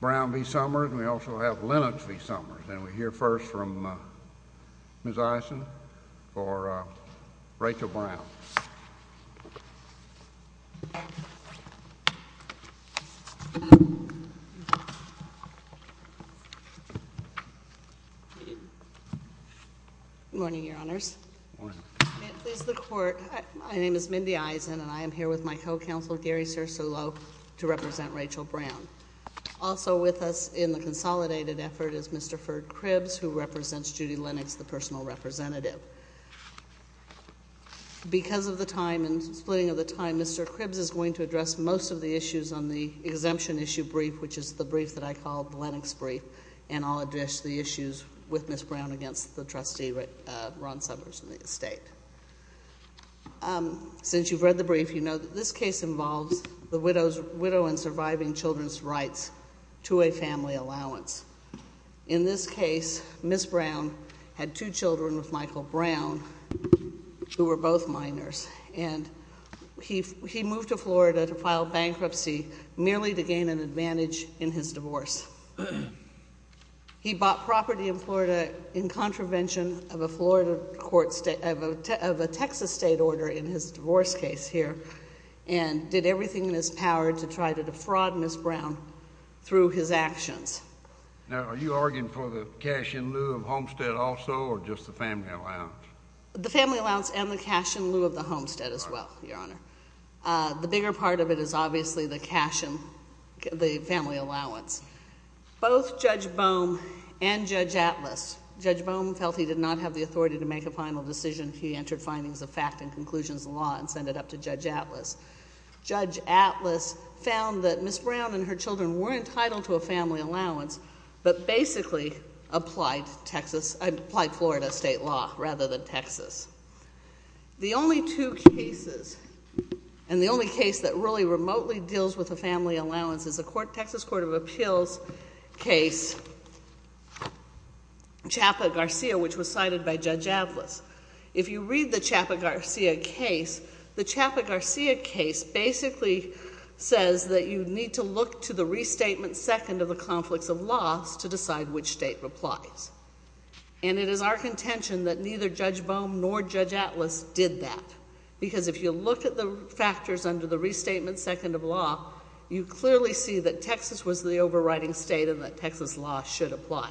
Brown v. Sommers and we also have Lennox v. Sommers and we hear first from Ms. Eisen for Rachel Brown. Morning your honors. My name is Mindy Eisen and I am here with my Also with us in the consolidated effort is Mr. Ferg Cribbs who represents Judy Lennox, the personal representative. Because of the time and splitting of the time, Mr. Cribbs is going to address most of the issues on the exemption issue brief, which is the brief that I call the Lennox brief, and I'll address the issues with Ms. Brown against the trustee Ron Sommers and the estate. Since you've read the brief, you know that this case involves the widow and surviving children's rights to a family allowance. In this case, Ms. Brown had two children with Michael Brown who were both minors and he moved to Florida to file bankruptcy merely to gain an advantage in his divorce. He bought property in Florida in contravention of a Florida court of a Texas state order in his divorce case here and did everything in his power to try to defraud Ms. Brown through his actions. Now are you arguing for the cash in lieu of homestead also or just the family allowance? The family allowance and the cash in lieu of the homestead as well, your honor. The bigger part of it is obviously the cash in the family allowance. Both Judge Bohm and Judge Atlas. Judge Bohm felt he did not have the authority to make a final decision. He entered findings of fact and conclusions of law and sent it up to Judge Atlas. Judge Atlas found that Ms. Brown and her children were entitled to a family allowance but basically applied Florida state law rather than Texas. The only two cases and the only case that really remotely deals with the family allowance is the Texas Court of Appeals case, Chapa Garcia, which was cited by Judge Atlas. If you read the Chapa Garcia case, the Chapa Garcia case basically says that you need to look to the restatement second of the conflicts of loss to decide which state applies. And it is our contention that neither Judge Bohm nor Judge Atlas did that. Because if you look at the factors under the restatement second of law, you clearly see that Texas was the overriding state and that Texas law should apply.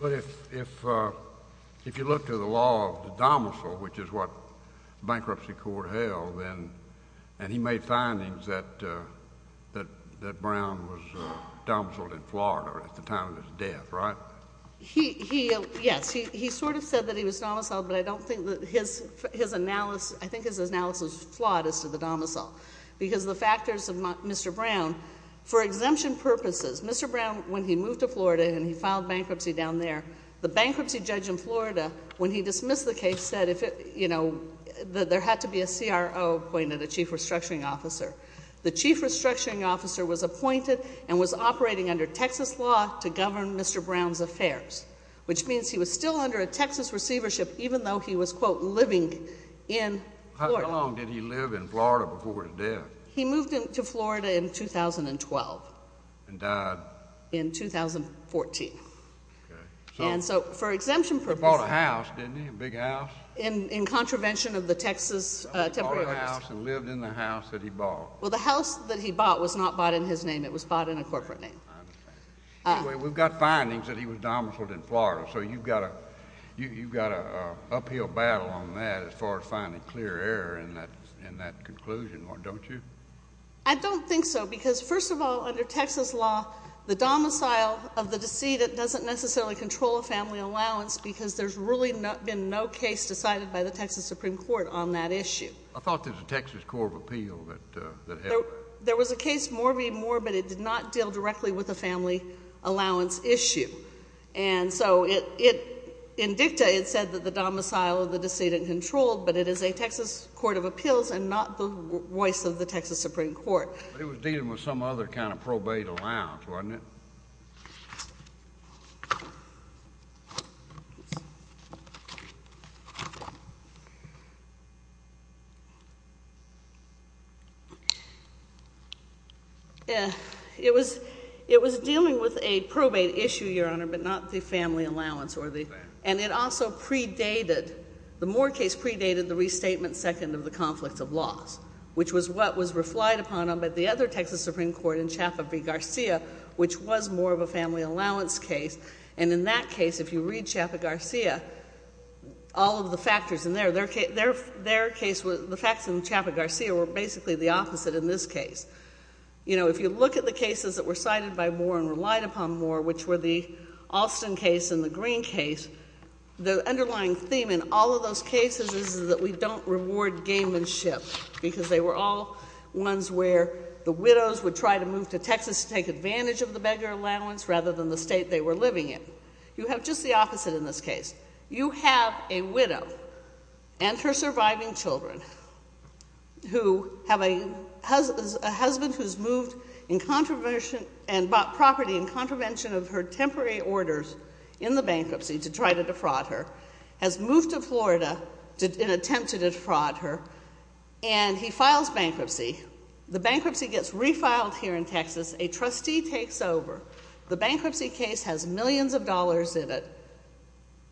But if you look to the law of the domicile, which is what bankruptcy court held, and he made findings that Brown was domiciled in Florida at the time of his death, right? He, yes, he sort of said that he was domiciled, but I don't think that his analysis, I think his analysis is flawed as to the domicile. Because the factors of Mr. Brown, for exemption purposes, Mr. Brown, when he moved to Florida and he filed bankruptcy down there, the bankruptcy judge in Florida, when he dismissed the case, said there had to be a CRO appointed, a chief restructuring officer. The chief restructuring officer was appointed and was operating under Texas law to govern Mr. Brown's affairs, which means he was still under a Texas receivership even though he was, quote, living in Florida. How long did he live in Florida before his death? He moved to Florida in 2012. And died? In 2014. And so, for exemption purposes. He bought a house, didn't he? A big house? In contravention of the Texas Temporary Act. He bought a house and lived in the house that he bought. Well, the house that he bought was not bought in his name. It was bought in a corporate name. Anyway, we've got findings that he was domiciled in Florida. So you've got a uphill battle on that as far as finding clear error in that conclusion, don't you? I don't think so, because first of all, under Texas law, the domicile of the decedent doesn't necessarily control a family allowance because there's really been no case decided by the Texas Supreme Court on that issue. I thought there was a Texas Court of Appeal that helped. There was a case, Morby, but it did not deal directly with the family allowance issue. And so, in dicta, it said that the domicile of the decedent controlled, but it is a Texas Court of Appeals and not the voice of the Texas Supreme Court. But it was dealing with some other kind of probate allowance, wasn't it? It was dealing with a probate issue, Your Honor, but not the family allowance. And it also predated, the Moore case predated the restatement second of the conflict of laws, which was what was reflected upon by the other Texas Supreme Court in Chaffet v. Garcia, which was more of a family allowance case. And in that case, if you read Chaffet v. Garcia, all of the factors in there, their case, the facts in Chaffet v. Garcia were basically the opposite in this case. You know, if you look at the cases that were cited by Moore and relied upon Moore, which were the Alston case and the Greene case, the underlying theme in all of those cases is that we don't reward gamemanship because they were all ones where the widows would try to move to Texas to take advantage of the beggar allowance rather than the state they were living in. You have just the opposite in this case. You have a widow and her surviving children who have a husband who's moved in contravention and bought property in contravention of her temporary orders in the bankruptcy to try to defraud her, has moved to Florida in an attempt to defraud her, and he files bankruptcy. The bankruptcy gets refiled here in Texas. A trustee takes over. The bankruptcy case has millions of dollars in it,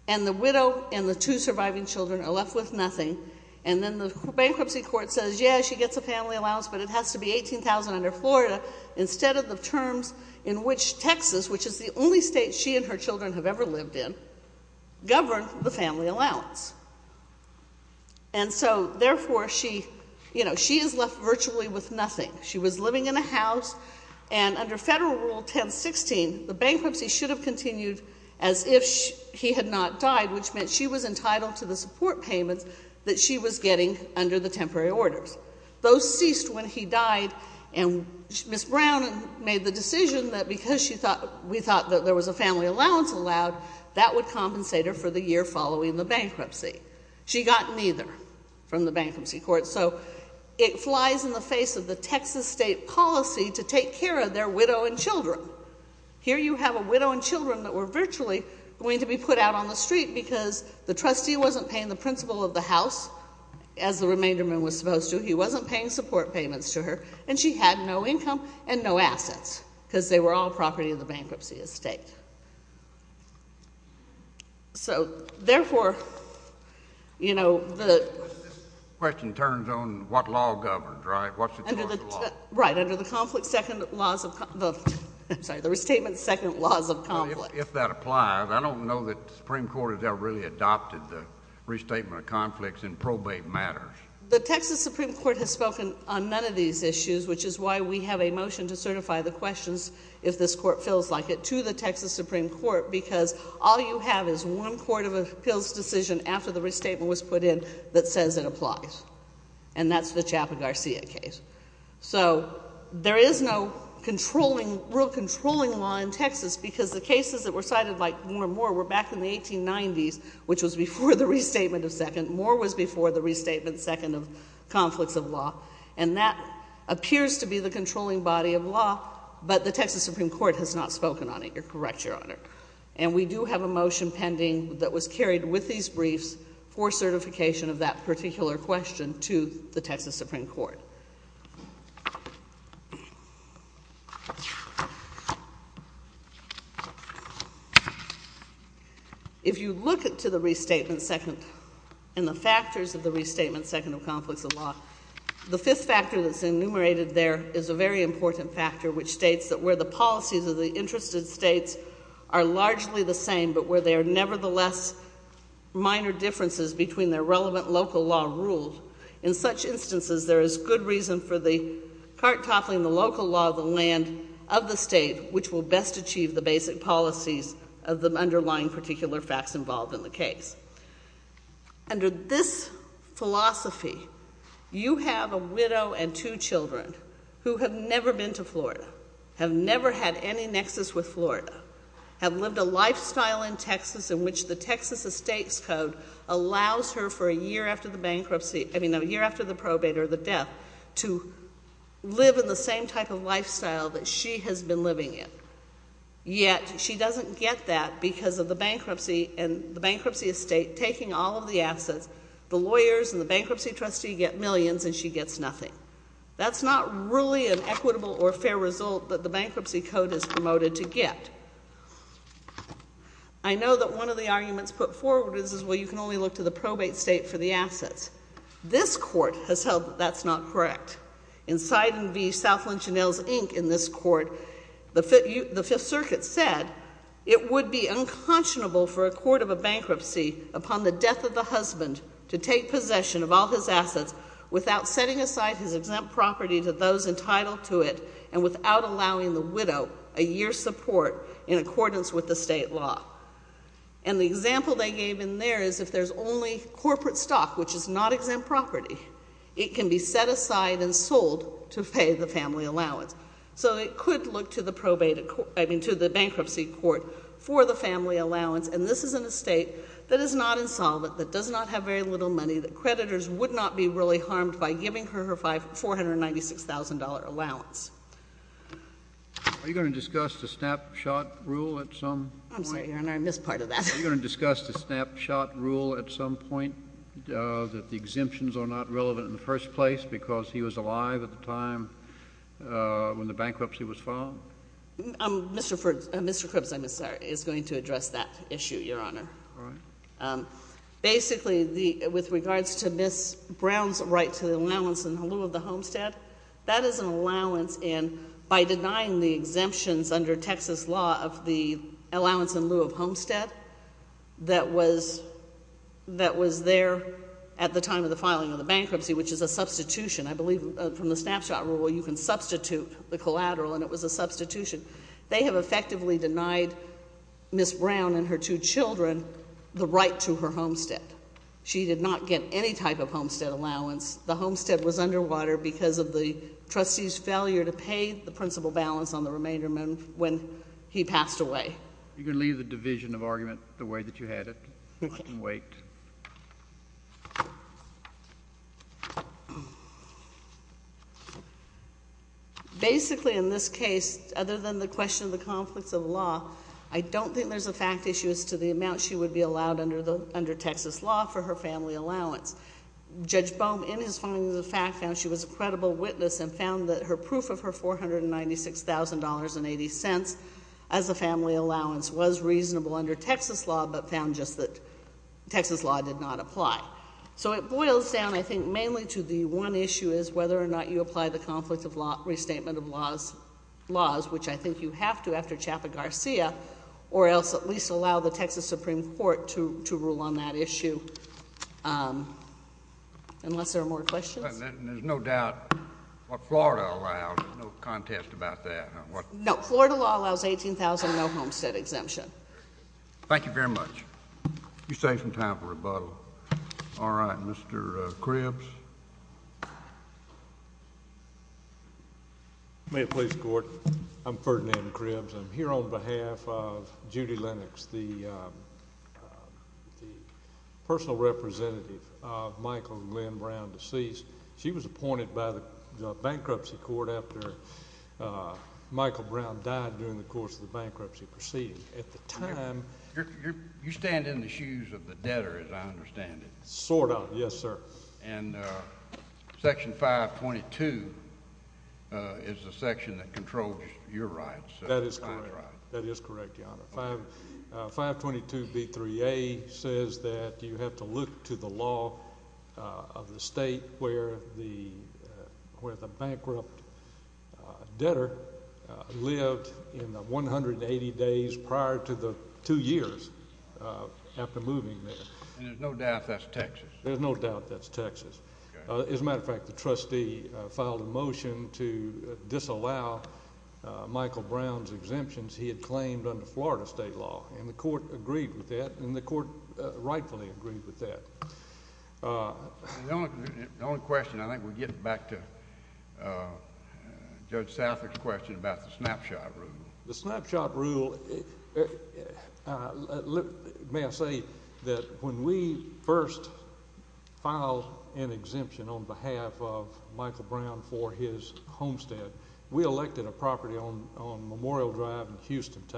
and the widow and the two surviving children are left with nothing, and then the bankruptcy court says, yeah, she gets a family allowance, but it has to be $18,000 under Florida instead of the terms in which Texas, which is the only state she and her children have ever lived in, governed the family allowance. And so, therefore, she, you know, she is left virtually with nothing. She was living in a house, and under Federal Rule 1016, the bankruptcy should have continued as if he had not died, which meant she was entitled to the support payments that she was getting under the temporary orders. Those ceased when he died, and Ms. Brown made the decision that because we thought that there was a family allowance allowed, that would compensate her for the year following the bankruptcy. She got neither from the bankruptcy court. So it flies in the face of the Texas state policy to take care of their widow and children. Here you have a widow and children that were virtually going to be put out on the street because the trustee wasn't paying the principal of the house, as the remainder man was supposed to. He wasn't paying support payments to her, and she had no income and no assets, because they were all property of the bankruptcy estate. So, therefore, you know, the— The question turns on what law governs, right? What's the choice of law? Right. Under the conflict, second laws of—I'm sorry, the restatement, second laws of conflict. If that applies, I don't know that the Supreme Court has ever really adopted the restatement of conflicts in probate matters. The Texas Supreme Court has spoken on none of these issues, which is why we have a motion to certify the questions, if this court feels like it, to the Texas Supreme Court, because all you have is one court of appeals decision after the restatement was put in that says it applies. And that's the Chaffin-Garcia case. So there is no controlling, real controlling law in Texas, because the cases that were cited like Moore and Moore were back in the 1890s, which was before the restatement of second. Moore was before the restatement, second of conflicts of law. And that appears to be the controlling body of law, but the Texas Supreme Court has not spoken on it. You're correct, Your Honor. And we do have a motion pending that was carried with these briefs for certification of that particular question to the Texas Supreme Court. If you look to the restatement, second, and the factors of the restatement, second of conflicts of law, the fifth factor that's enumerated there is a very important factor, which states that where the policies of the interested states are largely the same, but where there are nevertheless minor differences between their relevant local law ruled, in such instances, there is good reason for the cart toppling the local law of the land of the state, which will best achieve the basic policies of the underlying particular facts involved in the case. Under this philosophy, you have a widow and two children who have never been to Florida, have never had any nexus with Florida, have lived a lifestyle in Texas in which the Texas Estates Code allows her for a year after the bankruptcy, I mean, a year after the probate or the death, to live in the same type of lifestyle that she has been living in. Yet, she doesn't get that because of the bankruptcy and the bankruptcy estate taking all of the assets. The lawyers and the bankruptcy trustee get millions and she gets nothing. That's not really an equitable or fair result that the bankruptcy code has promoted to get. I know that one of the arguments put forward is, well, you can only look to the probate state for the assets. This court has held that that's not correct. In Sidon v. South Lynch & Nails, Inc., in this court, the Fifth Circuit said, it would be unconscionable for a court of a bankruptcy upon the death of the husband to take possession of all his assets without setting aside his exempt property to those entitled to it and without allowing the widow a year's support in accordance with the state law. And the example they gave in there is if there's only corporate stock, which is not exempt property, it can be set aside and sold to pay the family allowance. So it could look to the bankruptcy court for the family allowance, and this is an estate that is not insolvent, that does not have very little money, that creditors would not be really harmed by giving her her $496,000 allowance. Are you going to discuss the snapshot rule at some point? I'm sorry, Your Honor, I missed part of that. Are you going to discuss the snapshot rule at some point, that the exemptions are not relevant in the first place because he was alive at the time when the bankruptcy was Mr. Cribs, I'm sorry, is going to address that issue, Your Honor. Basically, with regards to Ms. Brown's right to the allowance in lieu of the homestead, that is an allowance, and by denying the exemptions under Texas law of the allowance in lieu of homestead that was there at the time of the filing of the bankruptcy, which is a substitution, I believe, from the snapshot rule, you can substitute the collateral, and it was a substitution. They have effectively denied Ms. Brown and her two children the right to her homestead. She did not get any type of homestead allowance. The homestead was underwater because of the trustee's failure to pay the principal balance on the remainder when he passed away. You can leave the division of argument the way that you had it. I can wait. Basically, in this case, other than the question of the conflicts of law, I don't think there's a fact issue as to the amount she would be allowed under Texas law for her family allowance. Judge Boehm, in his filing of the fact, found she was a credible witness and found that her $496,000.80 as a family allowance was reasonable under Texas law, but found just that Texas law did not apply. So it boils down, I think, mainly to the one issue is whether or not you apply the conflict of law, restatement of laws, which I think you have to after Chaffett-Garcia, or else at least allow the Texas Supreme Court to rule on that issue. Unless there are more questions? There's no doubt what Florida allows. There's no contest about that. No. Florida law allows $18,000, no homestead exemption. Thank you very much. You saved some time for rebuttal. All right. Mr. Cribs? May it please the Court? I'm Ferdinand Cribs. I'm here on behalf of Judy Lennox, the personal representative of Michael Glenn Brown, deceased, she was appointed by the bankruptcy court after Michael Brown died during the course of the bankruptcy proceeding. At the time— You stand in the shoes of the debtor, as I understand it. Sort of, yes, sir. And Section 522 is the section that controls your rights. That is correct. That is correct, Your Honor. 522b3a says that you have to look to the law of the state where the bankrupt debtor lived in the 180 days prior to the two years after moving there. And there's no doubt that's Texas? There's no doubt that's Texas. As a matter of fact, the trustee filed a motion to disallow Michael Brown's exemptions he had in Florida state law, and the Court agreed with that, and the Court rightfully agreed with that. The only question—I think we're getting back to Judge Saffer's question about the snapshot rule. The snapshot rule—may I say that when we first filed an exemption on behalf of Michael Brown, we did not file an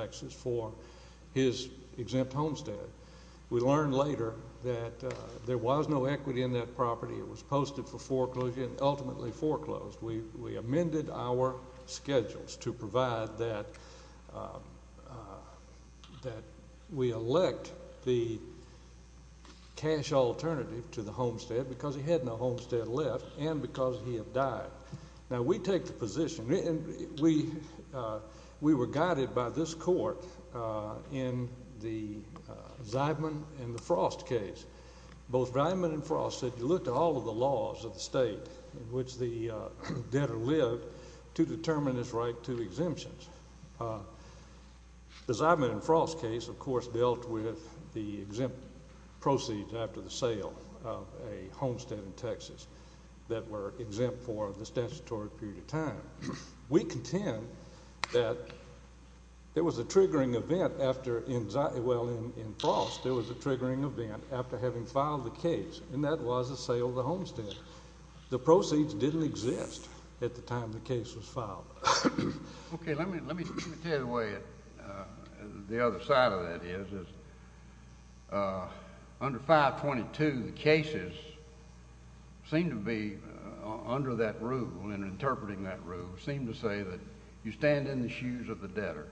exemption for his exempt homestead. We learned later that there was no equity in that property. It was posted for foreclosure and ultimately foreclosed. We amended our schedules to provide that we elect the cash alternative to the homestead because he had no homestead left and because he had died. Now, we take the position—we were guided by this Court in the Zeidman and Frost case. Both Zeidman and Frost said you look to all of the laws of the state in which the debtor lived to determine his right to exemptions. The Zeidman and Frost case, of course, dealt with the exempt proceeds after the sale of a homestead in Texas that were exempt for the statutory period of time. We contend that there was a triggering event after—well, in Frost, there was a triggering event after having filed the case, and that was the sale of the homestead. The proceeds didn't exist at the time the case was filed. Okay, let me tell you the way—the other side of that is under 522, the cases seem to be under that rule and interpreting that rule seem to say that you stand in the shoes of the debtor.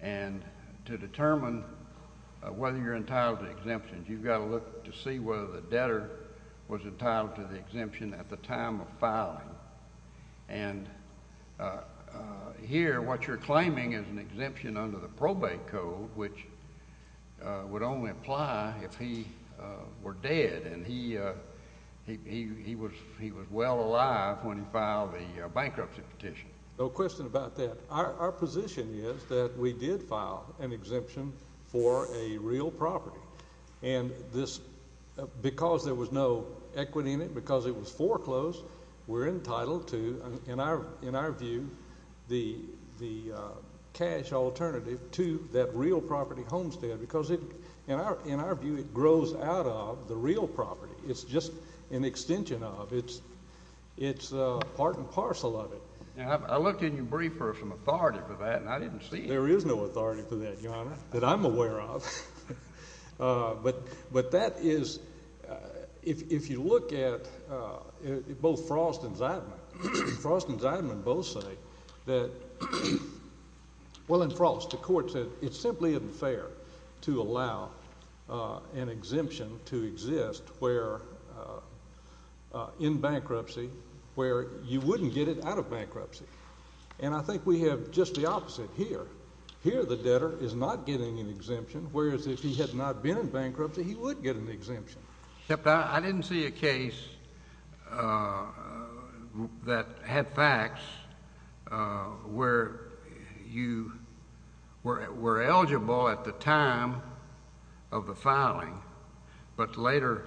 And to determine whether you're entitled to exemptions, you've got to look to see whether the debtor was entitled to the exemption at the time of filing. And here what you're claiming is an exemption under the probate code, which would only apply if he were dead and he was well alive when he filed the bankruptcy petition. No question about that. Our position is that we did file an exemption for a real property. And this—because there was no equity in it, because it was foreclosed, we're entitled to, in our view, the cash alternative to that real property homestead, because in our view, it grows out of the real property. It's just an extension of it. It's part and parcel of it. Now, I looked in your brief for some authority for that, and I didn't see it. There is no authority for that, Your Honor, that I'm aware of. But that is—if you look at both Frost and Zeidman, Frost and Zeidman both say that—well, in Frost, the court said it simply isn't fair to allow an exemption to exist where—in bankruptcy, where you wouldn't get it out of bankruptcy. And I think we have just the opposite here. Here, the debtor is not getting an exemption, whereas if he had not been in bankruptcy, he would get an exemption. Except I didn't see a case that had facts where you were eligible at the time of the filing, but later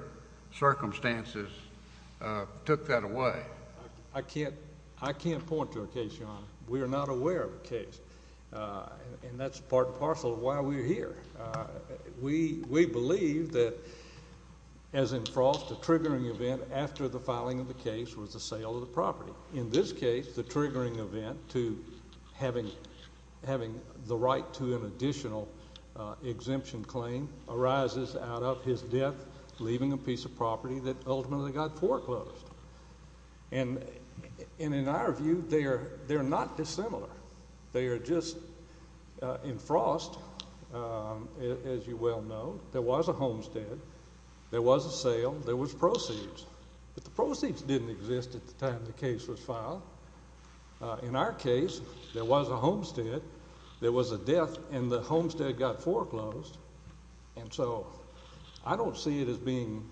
circumstances took that away. I can't point to a case, Your Honor. We are not aware of a case. And that's part and parcel of why we're here. We believe that, as in Frost, the triggering event after the filing of the case was the sale of the property. In this case, the triggering event to having the right to an additional exemption claim arises out of his death, leaving a piece of property that ultimately got foreclosed. And in our view, they're not dissimilar. They are just—in Frost, as you well know, there was a homestead, there was a sale, there was proceeds. But the proceeds didn't exist at the time the case was filed. In our case, there was a homestead, there was a death, and the homestead got foreclosed. And so I don't see it as being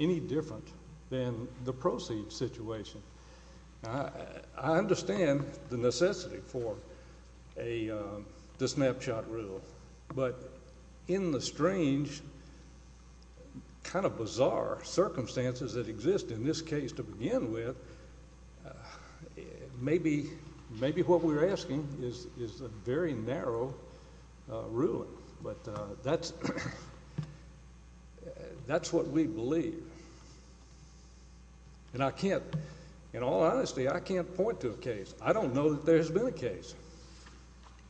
any different than the proceeds situation. I understand the necessity for the snapshot rule, but in the strange, kind of bizarre circumstances that exist in this case to begin with, maybe what we're asking is a very narrow ruling. But that's what we believe. And I can't—in all honesty, I can't point to a case. I don't know that there's been a case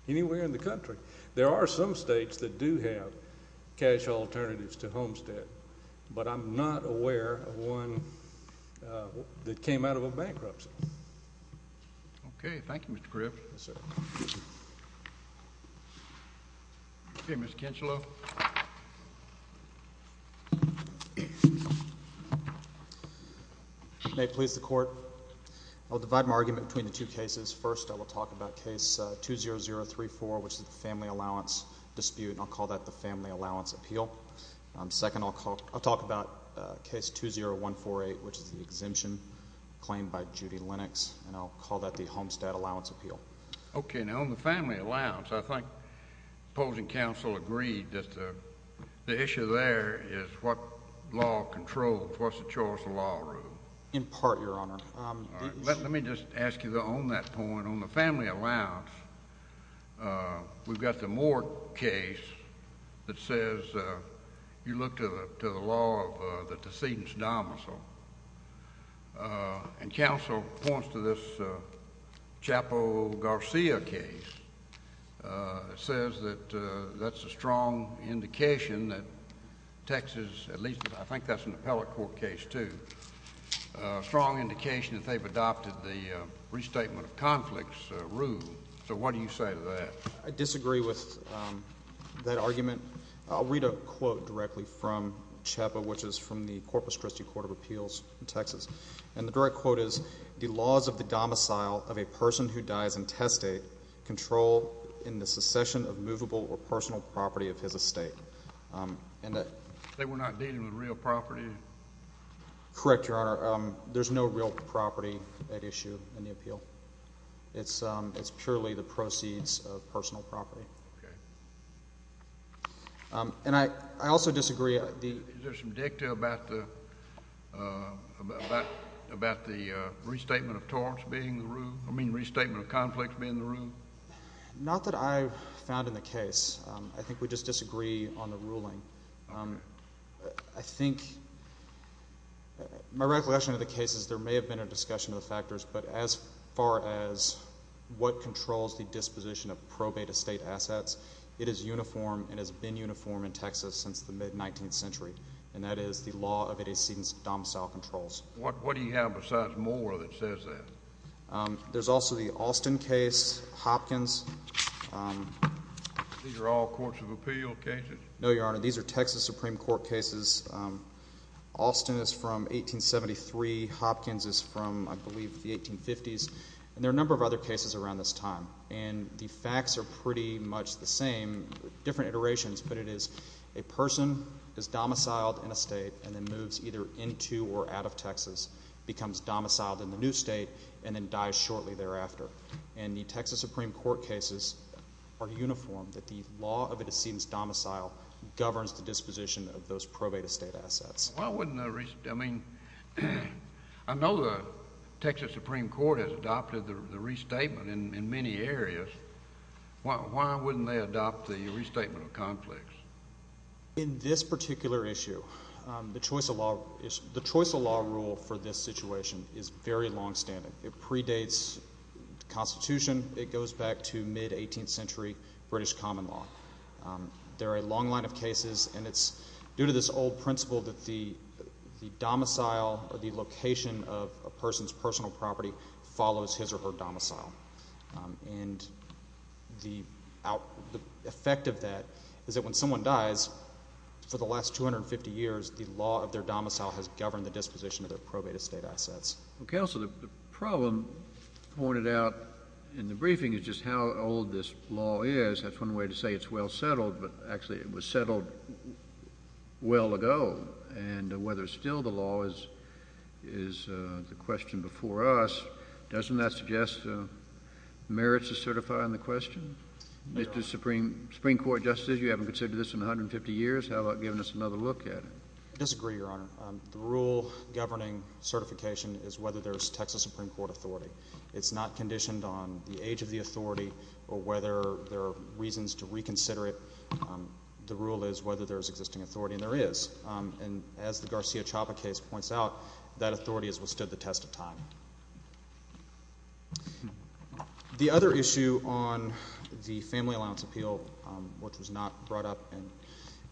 anywhere in the country. There are some states that do have cash alternatives to homestead, but I'm not aware of one that came out of a bankruptcy. Okay. Thank you, Mr. Griff. Yes, sir. Okay, Mr. Kincheloe. May it please the Court. I'll divide my argument between the two cases. First, I will talk about case 20034, which is the family allowance dispute, and I'll call that the family allowance appeal. Second, I'll talk about case 20148, which is the exemption claim by Judy Lennox, and I'll call that the homestead allowance appeal. Okay, now on the family allowance, I think the opposing counsel agreed that the issue there is what law controls, what's the choice of law rule. In part, Your Honor. Let me just ask you on that point. On the family allowance, we've got the Moore case that says you look to the law of the decedent's domicile, and counsel points to this Chapo Garcia case. It says that that's a strong indication that Texas, at least I think that's an appellate case too, a strong indication that they've adopted the restatement of conflicts rule. So what do you say to that? I disagree with that argument. I'll read a quote directly from Chapo, which is from the Corpus Christi Court of Appeals in Texas, and the direct quote is, the laws of the domicile of a person who dies in testate control in the secession of movable or personal property of his estate. They were not dealing with real property? Correct, Your Honor. There's no real property at issue in the appeal. It's purely the proceeds of personal property. Okay. And I also disagree. Is there some dicta about the restatement of torts being the rule, I mean restatement of conflicts being the rule? Not that I've found in the case. I think we just disagree on the ruling. I think my recollection of the case is there may have been a discussion of the factors, but as far as what controls the disposition of probate estate assets, it is uniform and has been uniform in Texas since the mid-19th century, and that is the law of it exceeds domicile controls. What do you have besides more that says that? There's also the Alston case, Hopkins. Are these all courts of appeal cases? No, Your Honor. These are Texas Supreme Court cases. Alston is from 1873. Hopkins is from, I believe, the 1850s, and there are a number of other cases around this time, and the facts are pretty much the same, different iterations, but it is a person is domiciled in a state and then moves either into or out of Texas, becomes domiciled in the new state, and then dies shortly thereafter. And the Texas Supreme Court cases are uniform, that the law of it exceeds domicile governs the disposition of those probate estate assets. Why wouldn't the, I mean, I know the Texas Supreme Court has adopted the restatement in many areas. Why wouldn't they adopt the restatement of conflicts? In this particular issue, the choice of law rule for this situation is very longstanding. It predates the Constitution. It goes back to mid-18th century British common law. There are a long line of cases, and it's due to this old principle that the domicile or the location of a person's personal property follows his or her domicile. And the effect of that is that when someone dies, for the last 250 years, the law of their domicile has governed the disposition of their probate estate assets. Well, Counselor, the problem pointed out in the briefing is just how old this law is. That's one way to say it's well settled, but actually it was settled well ago. And whether still the law is the question before us, doesn't that suggest merits to certify on the question? Mr. Supreme Court Justice, you haven't considered this in 150 years. How about giving us another look at it? I disagree, Your Honor. The rule governing certification is whether there's Texas Supreme Court authority. It's not conditioned on the age of the authority or whether there are reasons to reconsider it. The rule is whether there's existing authority, and there is. And as the Garcia-Chapa case points out, that authority has withstood the test of time. The other issue on the Family Allowance Appeal, which was not brought up in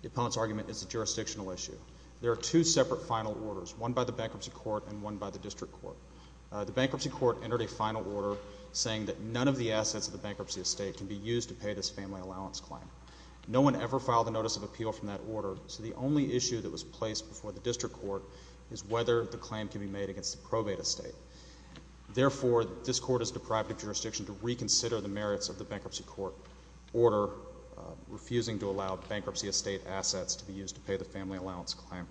the appellant's argument, is a jurisdictional issue. There are two separate final orders, one by the bankruptcy court and one by the district court. The bankruptcy court entered a final order saying that none of the assets of the bankruptcy estate can be used to pay this family allowance claim. No one ever filed a notice of appeal from that order, so the only issue that was placed before the district court is whether the claim can be made against the probate estate. Therefore, this court is deprived of jurisdiction to reconsider the merits of the bankruptcy court order, refusing to allow bankruptcy estate assets to be used to pay the family allowance claim.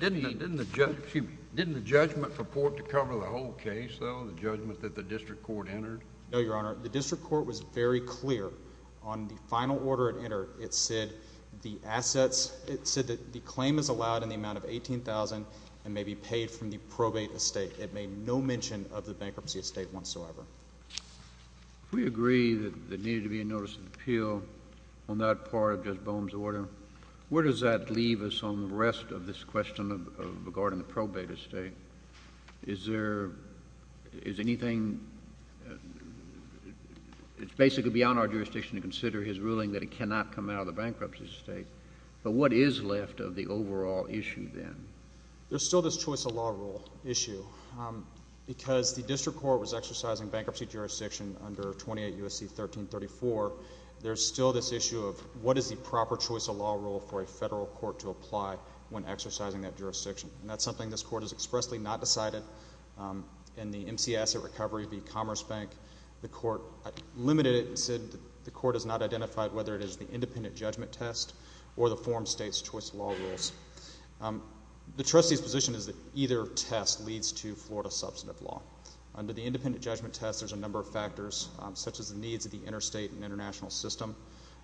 Didn't the judgment purport to cover the whole case, though, the judgment that the district court entered? No, Your Honor. The district court was very clear on the final order it entered. It said that the claim is allowed in the amount of $18,000 and may be paid from the probate estate. It made no mention of the bankruptcy estate whatsoever. If we agree that there needed to be a notice of appeal on that part of Judge Bohm's order, where does that leave us on the rest of this question regarding the probate estate? It's basically beyond our jurisdiction to consider his ruling that it cannot come out of the bankruptcy estate, but what is left of the overall issue then? There's still this choice of law rule issue because the district court was exercising bankruptcy jurisdiction under 28 U.S.C. 1334. There's still this issue of what is the proper choice of law rule for a federal court to apply when exercising that jurisdiction, and that's something this court has expressly not decided. In the MC Asset Recovery v. Commerce Bank, the court limited it and said the court has not identified whether it is the independent judgment test or the form states choice of law rules. The trustee's position is that either test leads to Florida substantive law. Under the independent judgment test, there's a number of factors, such as the needs of the interstate and international system,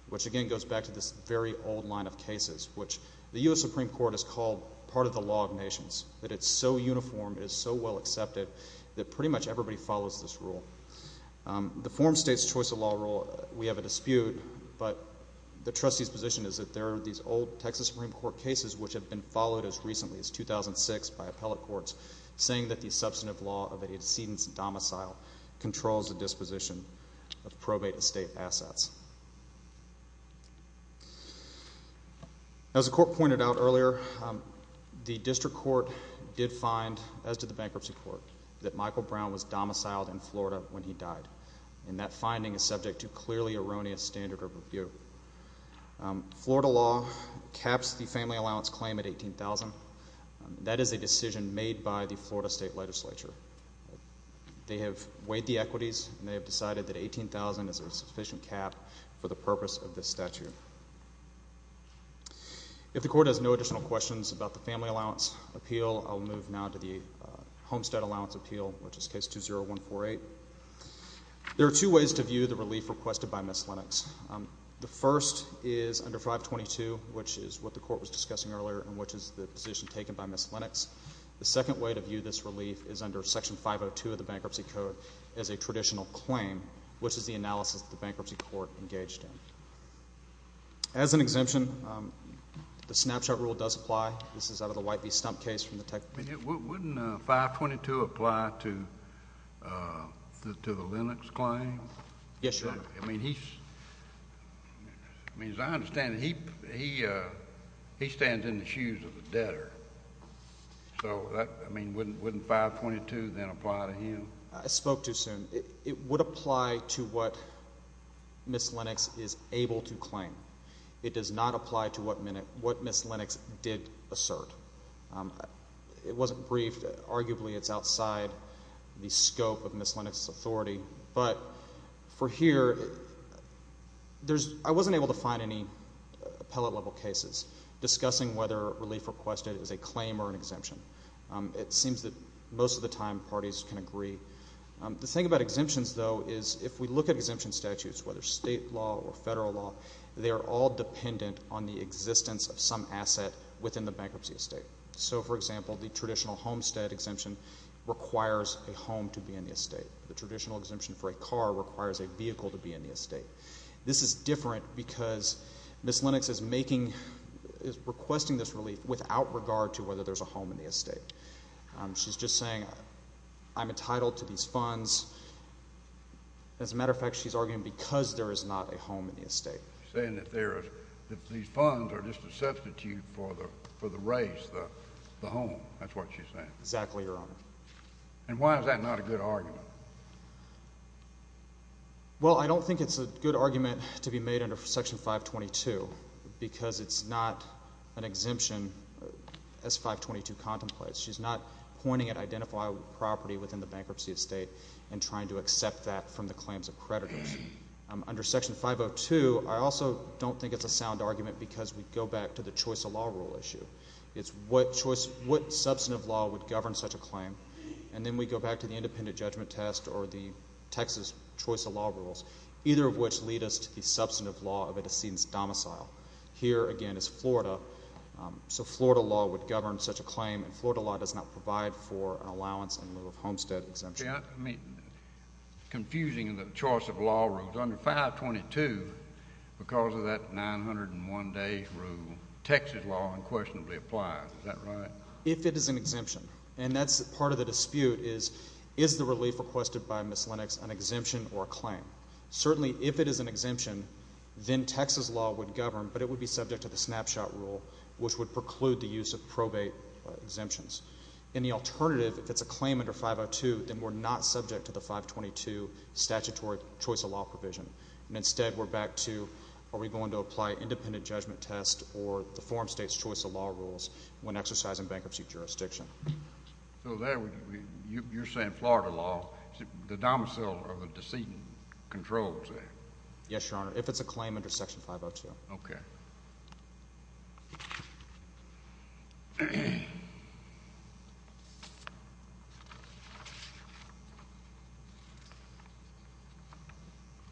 which again goes back to this very old line of cases, which the U.S. Supreme Court has called part of the law of nations, that it's so uniform, it's so well accepted that pretty much everybody follows this rule. The form states choice of law rule, we have a dispute, but the trustee's position is that there are these old Texas Supreme Court cases which have been followed as recently as 2006 by appellate courts saying that the substantive law of a decedent's domicile controls the disposition of probate estate assets. As the court pointed out earlier, the district court did find, as did the bankruptcy court, that Michael Brown was domiciled in Florida when he died, and that finding is subject to clearly erroneous standard of review. The Florida law caps the family allowance claim at $18,000. That is a decision made by the Florida State Legislature. They have weighed the equities, and they have decided that $18,000 is a sufficient cap for the purpose of this statute. If the court has no additional questions about the family allowance appeal, I'll move now to the homestead allowance appeal, which is case 20148. There are two ways to view the relief requested by Miss Lennox. The first is under 522, which is what the court was discussing earlier, and which is the position taken by Miss Lennox. The second way to view this relief is under Section 502 of the Bankruptcy Code as a traditional claim, which is the analysis that the bankruptcy court engaged in. As an exemption, the snapshot rule does apply. This is out of the White v. Stump case from the Tech Committee. Wouldn't 522 apply to the Lennox claim? Yes, Your Honor. I mean, as I understand it, he stands in the shoes of the debtor. So, I mean, wouldn't 522 then apply to him? I spoke too soon. It would apply to what Miss Lennox is able to claim. It does not apply to what Miss Lennox did assert. It wasn't briefed. But for here, I wasn't able to find any appellate-level cases discussing whether relief requested is a claim or an exemption. It seems that most of the time, parties can agree. The thing about exemptions, though, is if we look at exemption statutes, whether state law or federal law, they are all dependent on the existence of some asset within the bankruptcy estate. So, for example, the traditional homestead exemption requires a home to be in the estate. The traditional exemption for a car requires a vehicle to be in the estate. This is different because Miss Lennox is making, is requesting this relief without regard to whether there's a home in the estate. She's just saying, I'm entitled to these funds. As a matter of fact, she's arguing because there is not a home in the estate. She's saying that these funds are just a substitute for the raise, the home. That's what she's saying. Exactly, Your Honor. And why is that not a good argument? Well, I don't think it's a good argument to be made under Section 522 because it's not an exemption as 522 contemplates. She's not pointing at identified property within the bankruptcy estate and trying to accept that from the claims of creditors. Under Section 502, I also don't think it's a sound argument because we go back to the choice of law rule issue. It's what choice, what substantive law would govern such a claim, and then we go back to the independent judgment test or the Texas choice of law rules, either of which lead us to the substantive law of a decedent's domicile. Here, again, is Florida. So Florida law would govern such a claim, and Florida law does not provide for an allowance in lieu of homestead exemption. Confusing in the choice of law rules. Under 522, because of that 901-day rule, Texas law unquestionably applies. Is that right? If it is an exemption. And that's part of the dispute is, is the relief requested by Ms. Lennox an exemption or a claim? Certainly, if it is an exemption, then Texas law would govern, but it would be subject to the snapshot rule, which would preclude the use of probate exemptions. In the alternative, if it's a claim under 502, then we're not subject to the 522 statutory choice of law provision. And instead, we're back to, are we going to apply independent judgment test or the So there, you're saying Florida law, the domicile of a decedent controls that? Yes, Your Honor. If it's a claim under section 502. OK.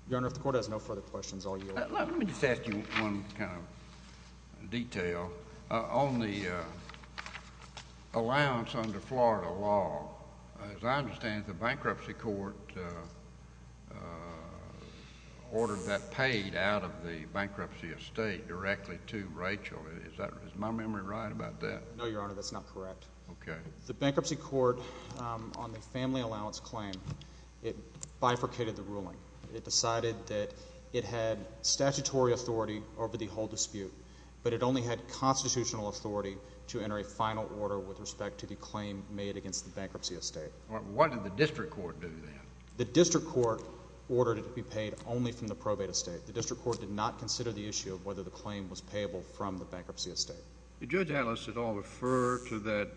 Your Honor, if the court has no further questions, I'll yield. Let me just ask you one kind of detail. On the allowance under Florida law, as I understand it, the bankruptcy court ordered that paid out of the bankruptcy estate directly to Rachel. Is that, is my memory right about that? No, Your Honor, that's not correct. OK. The bankruptcy court on the family allowance claim, it bifurcated the ruling. It decided that it had statutory authority over the whole dispute, but it only had constitutional authority to enter a final order with respect to the claim made against the bankruptcy estate. What did the district court do then? The district court ordered it to be paid only from the probate estate. The district court did not consider the issue of whether the claim was payable from the bankruptcy estate. Did Judge Atlas at all refer to that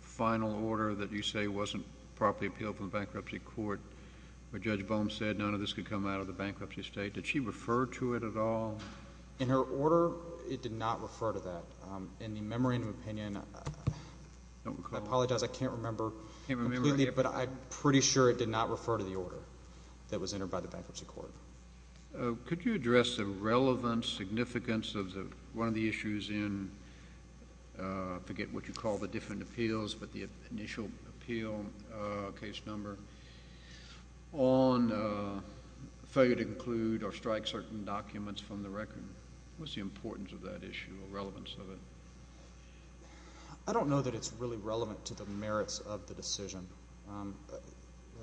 final order that you say wasn't properly appealed from the bankruptcy court where Judge Bohm said none of this could come out of the bankruptcy estate? Did she refer to it at all? In her order, it did not refer to that. In the memory and opinion, I apologize, I can't remember completely, but I'm pretty sure it did not refer to the order that was entered by the bankruptcy court. Could you address the relevant significance of one of the issues in, I forget what you called it, the appeal case number on failure to include or strike certain documents from the record? What's the importance of that issue or relevance of it? I don't know that it's really relevant to the merits of the decision.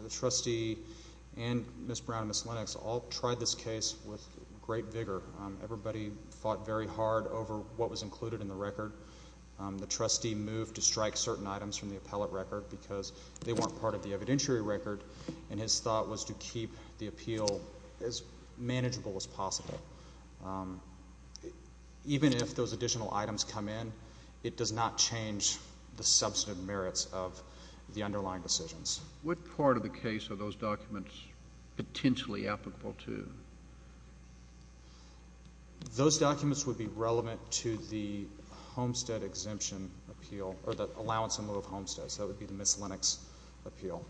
The trustee and Ms. Brown and Ms. Lennox all tried this case with great vigor. Everybody fought very hard over what was included in the record. The trustee moved to strike certain items from the appellate record because they weren't part of the evidentiary record, and his thought was to keep the appeal as manageable as possible. Even if those additional items come in, it does not change the substantive merits of the underlying decisions. What part of the case are those documents potentially applicable to? Those documents would be relevant to the Homestead Exemption Appeal, or the Allowance in the Move of Homestead, so that would be the Ms. Lennox appeal.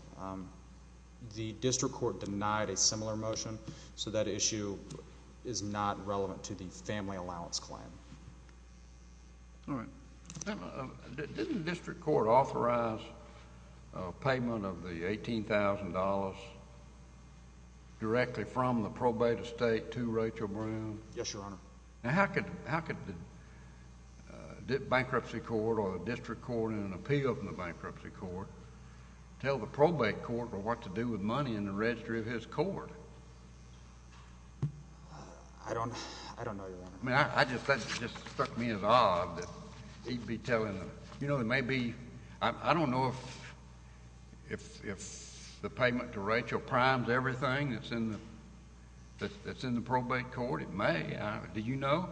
The district court denied a similar motion, so that issue is not relevant to the family allowance claim. All right. Didn't the district court authorize a payment of the $18,000 directly from the probate estate to Rachel Brown? Yes, Your Honor. Now, how could the bankruptcy court or the district court in an appeal from the bankruptcy court tell the probate court what to do with money in the registry of his court? I don't know, Your Honor. I just—that just struck me as odd that he'd be telling—you know, there may be—I don't know if the payment to Rachel primes everything that's in the probate court. It may. Do you know?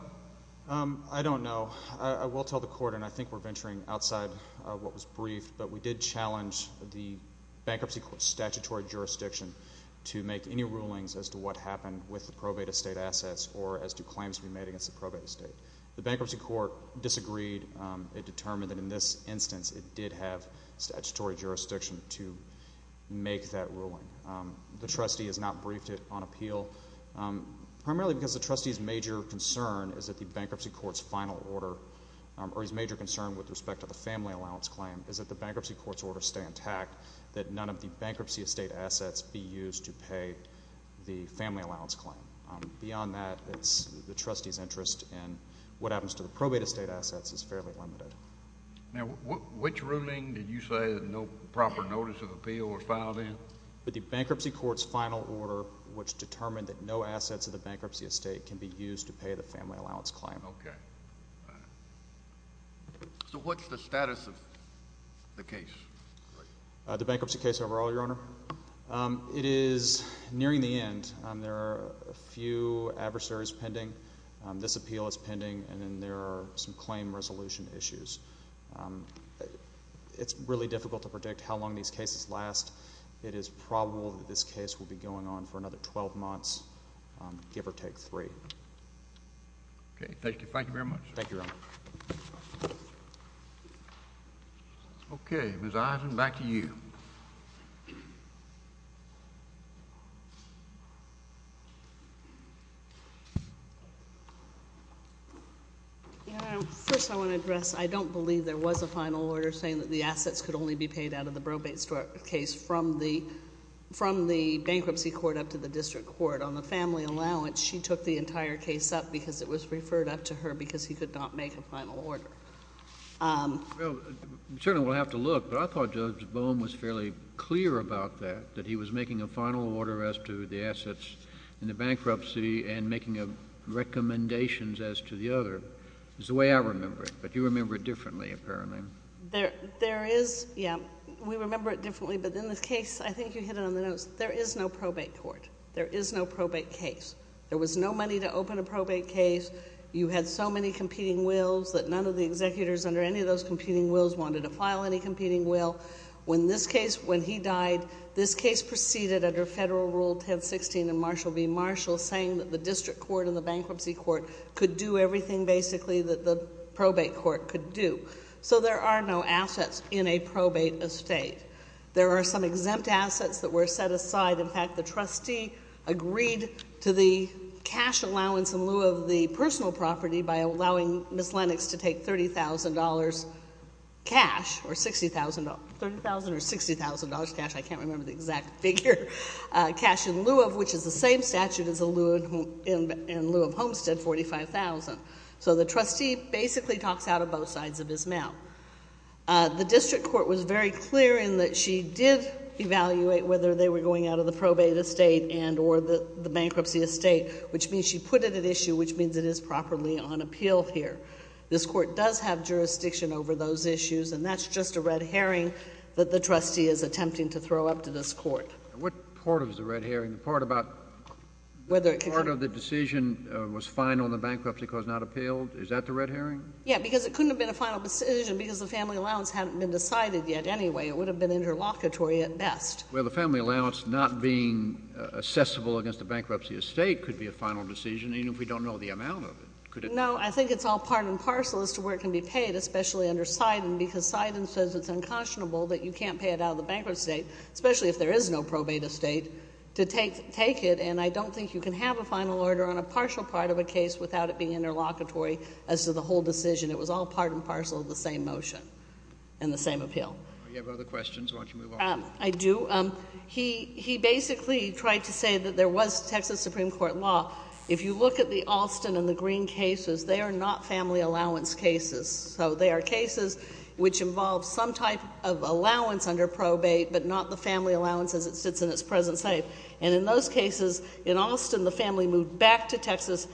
I don't know. I will tell the court, and I think we're venturing outside of what was briefed, but we did challenge the bankruptcy court's statutory jurisdiction to make any rulings as to what to do against the probate estate. The bankruptcy court disagreed. It determined that in this instance it did have statutory jurisdiction to make that ruling. The trustee has not briefed it on appeal, primarily because the trustee's major concern is that the bankruptcy court's final order—or his major concern with respect to the family allowance claim is that the bankruptcy court's order stay intact, that none of the bankruptcy estate assets be used to pay the family allowance claim. Beyond that, it's the trustee's interest, and what happens to the probate estate assets is fairly limited. Now, which ruling did you say that no proper notice of appeal was filed in? The bankruptcy court's final order, which determined that no assets of the bankruptcy estate can be used to pay the family allowance claim. Okay. So what's the status of the case? The bankruptcy case overall, Your Honor? It is nearing the end. There are a few adversaries pending. This appeal is pending, and then there are some claim resolution issues. It's really difficult to predict how long these cases last. It is probable that this case will be going on for another 12 months, give or take three. Okay. Thank you. Thank you very much. Thank you, Your Honor. Okay. Ms. Isen, back to you. Your Honor, first I want to address, I don't believe there was a final order saying that the assets could only be paid out of the probate case from the bankruptcy court up to the district court. On the family allowance, she took the entire case up because it was referred up to her because he could not make a final order. Well, certainly we'll have to look, but I thought Judge Bohm was fairly clear about that, that he was making a final order as to the assets in the bankruptcy and making recommendations as to the other. It's the way I remember it, but you remember it differently, apparently. There is, yeah, we remember it differently, but in this case, I think you hit it on the nose. There is no probate court. There is no probate case. There was no money to open a probate case. You had so many competing wills that none of the executors under any of those competing wills wanted to file any competing will. When this case, when he died, this case proceeded under Federal Rule 1016 and Marshall v. Marshall saying that the district court and the bankruptcy court could do everything, basically, that the probate court could do. So there are no assets in a probate estate. There are some exempt assets that were set aside. In fact, the trustee agreed to the cash allowance in lieu of the personal property by allowing Ms. Lennox to take $30,000 cash, or $60,000, $30,000 or $60,000 cash, I can't remember the exact figure, cash in lieu of, which is the same statute in lieu of Homestead, $45,000. So the trustee basically talks out of both sides of his mouth. The district court was very clear in that she did evaluate whether they were going out of the probate estate and or the bankruptcy estate, which means she put it at issue, which means it is properly on appeal here. This Court does have jurisdiction over those issues, and that's just a red herring that the trustee is attempting to throw up to this Court. What part of the red herring, the part about whether the decision was final and the bankruptcy court was not appealed, is that the red herring? Yeah, because it couldn't have been a final decision because the family allowance hadn't been decided yet anyway. It would have been interlocutory at best. Well, the family allowance not being assessable against the bankruptcy estate could be a final decision, even if we don't know the amount of it, could it? No, I think it's all part and parcel as to where it can be paid, especially under Seiden because Seiden says it's unconscionable that you can't pay it out of the bankruptcy estate, especially if there is no probate estate, to take it, and I don't think you can have a final order on a partial part of a case without it being interlocutory as to the whole decision. It was all part and parcel of the same motion and the same appeal. Do you have other questions? Why don't you move on? I do. He basically tried to say that there was Texas Supreme Court law. If you look at the Alston and the Green cases, they are not family allowance cases. So they are cases which involve some type of allowance under probate, but not the family allowance as it sits in its present state. And in those cases, in Alston, the family moved back to Texas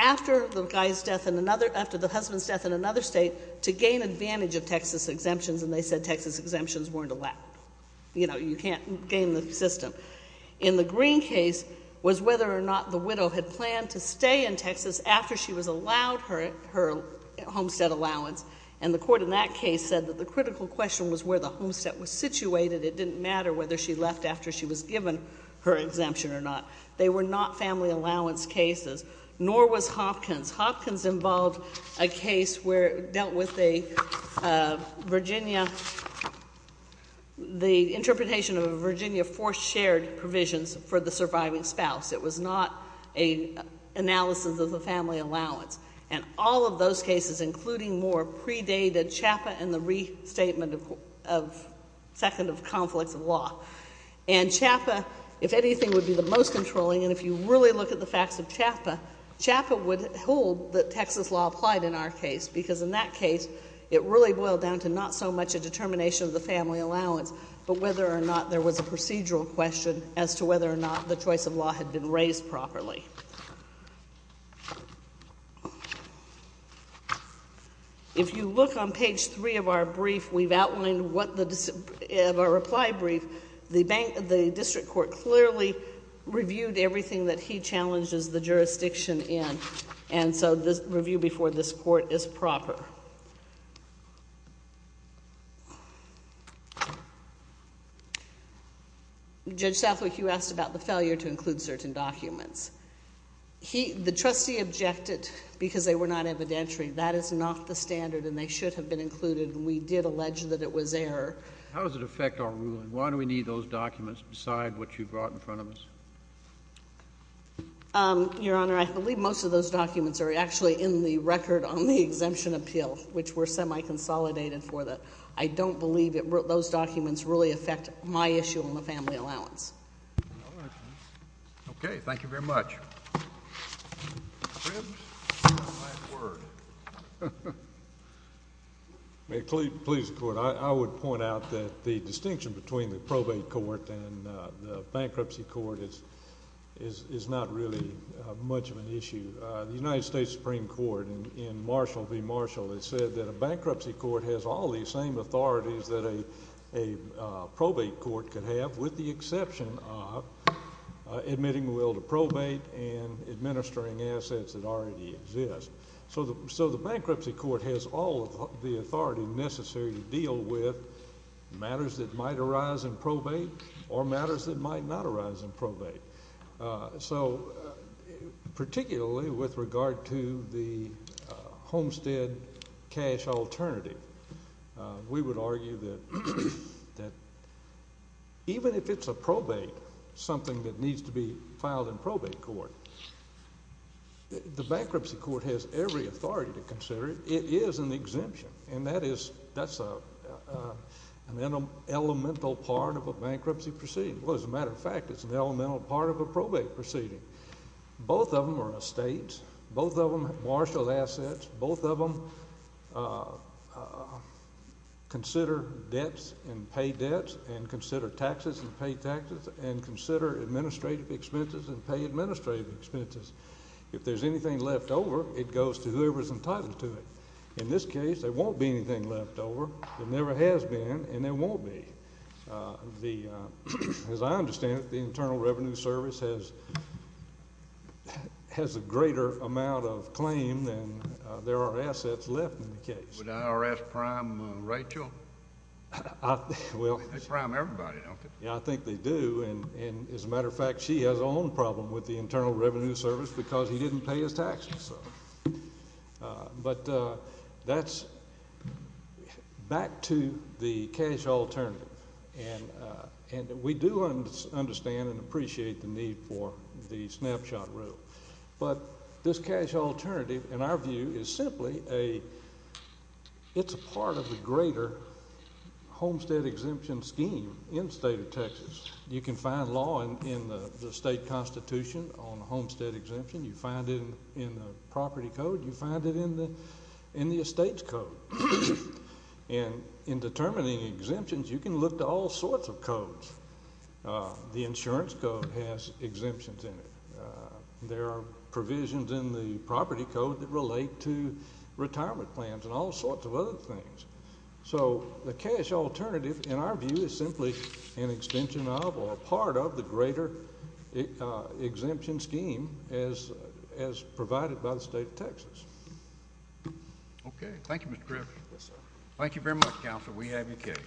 after the guy's death in another, after the husband's death in another state to gain advantage of Texas exemptions, and they said Texas exemptions weren't allowed. You know, you can't gain the system. In the Green case was whether or not the widow had planned to stay in Texas after she was allowed her homestead allowance, and the court in that case said that the critical question was where the homestead was situated. It didn't matter whether she left after she was given her exemption or not. They were not family allowance cases, nor was Hopkins. Hopkins involved a case where it dealt with a Virginia, the interpretation of a Virginia force-shared provisions for the surviving spouse. It was not an analysis of the family allowance. And all of those cases, including more, predated CHAPA and the restatement of second of conflicts of law. And CHAPA, if anything, would be the most controlling, and if you really look at the Texas law applied in our case, because in that case, it really boiled down to not so much a determination of the family allowance, but whether or not there was a procedural question as to whether or not the choice of law had been raised properly. If you look on page three of our brief, we've outlined what the, of our reply brief, the bank, the district court clearly reviewed everything that he challenges the jurisdiction in, and so the review before this court is proper. Judge Southwick, you asked about the failure to include certain documents. The trustee objected because they were not evidentiary. That is not the standard, and they should have been included, and we did allege that it was error. How does it affect our ruling? Why do we need those documents beside what you brought in front of us? Your Honor, I believe most of those documents are actually in the record on the exemption appeal, which we're semi-consolidated for that. I don't believe it, those documents really affect my issue on the family allowance. Okay. Thank you very much. May it please the Court, I would point out that the distinction between the probate court and the bankruptcy court is not really much of an issue. The United States Supreme Court in Marshall v. Marshall has said that a bankruptcy court has all the same authorities that a probate court can have, with the exception of admitting the will to probate and administering assets that already exist. So the bankruptcy court has all of the authority necessary to deal with matters that might arise in probate or matters that might not arise in probate. So particularly with regard to the Homestead cash alternative, we would argue that even if it's a probate, something that needs to be filed in probate court, the bankruptcy court has every authority to consider it. It is an exemption, and that's an elemental part of a bankruptcy proceeding. Well, as a matter of fact, it's an elemental part of a probate proceeding. Both of them are estates. Both of them have Marshall assets. Both of them consider debts and pay debts and consider taxes and pay taxes and consider administrative expenses and pay administrative expenses. If there's anything left over, it goes to whoever's entitled to it. In this case, there won't be anything left over. There never has been, and there won't be. As I understand it, the Internal Revenue Service has a greater amount of claim than there are assets left in the case. Would IRS prime Rachel? Well, they prime everybody, don't they? Yeah, I think they do, and as a matter of fact, she has her own problem with the Internal Revenue Service because he didn't pay his taxes. But that's back to the cash alternative, and we do understand and appreciate the need for the snapshot rule, but this cash alternative, in our view, is simply a—it's a part of the greater homestead exemption scheme in the state of Texas. You can find law in the state constitution on homestead exemption. You find it in the property code. You find it in the estates code. And in determining exemptions, you can look to all sorts of codes. The insurance code has exemptions in it. There are provisions in the property code that relate to retirement plans and all sorts of other things. So the cash alternative, in our view, is simply an extension of or a part of the greater exemption scheme as provided by the state of Texas. Okay. Thank you, Mr. Griffith. Yes, sir. Thank you very much, counsel. We have your case.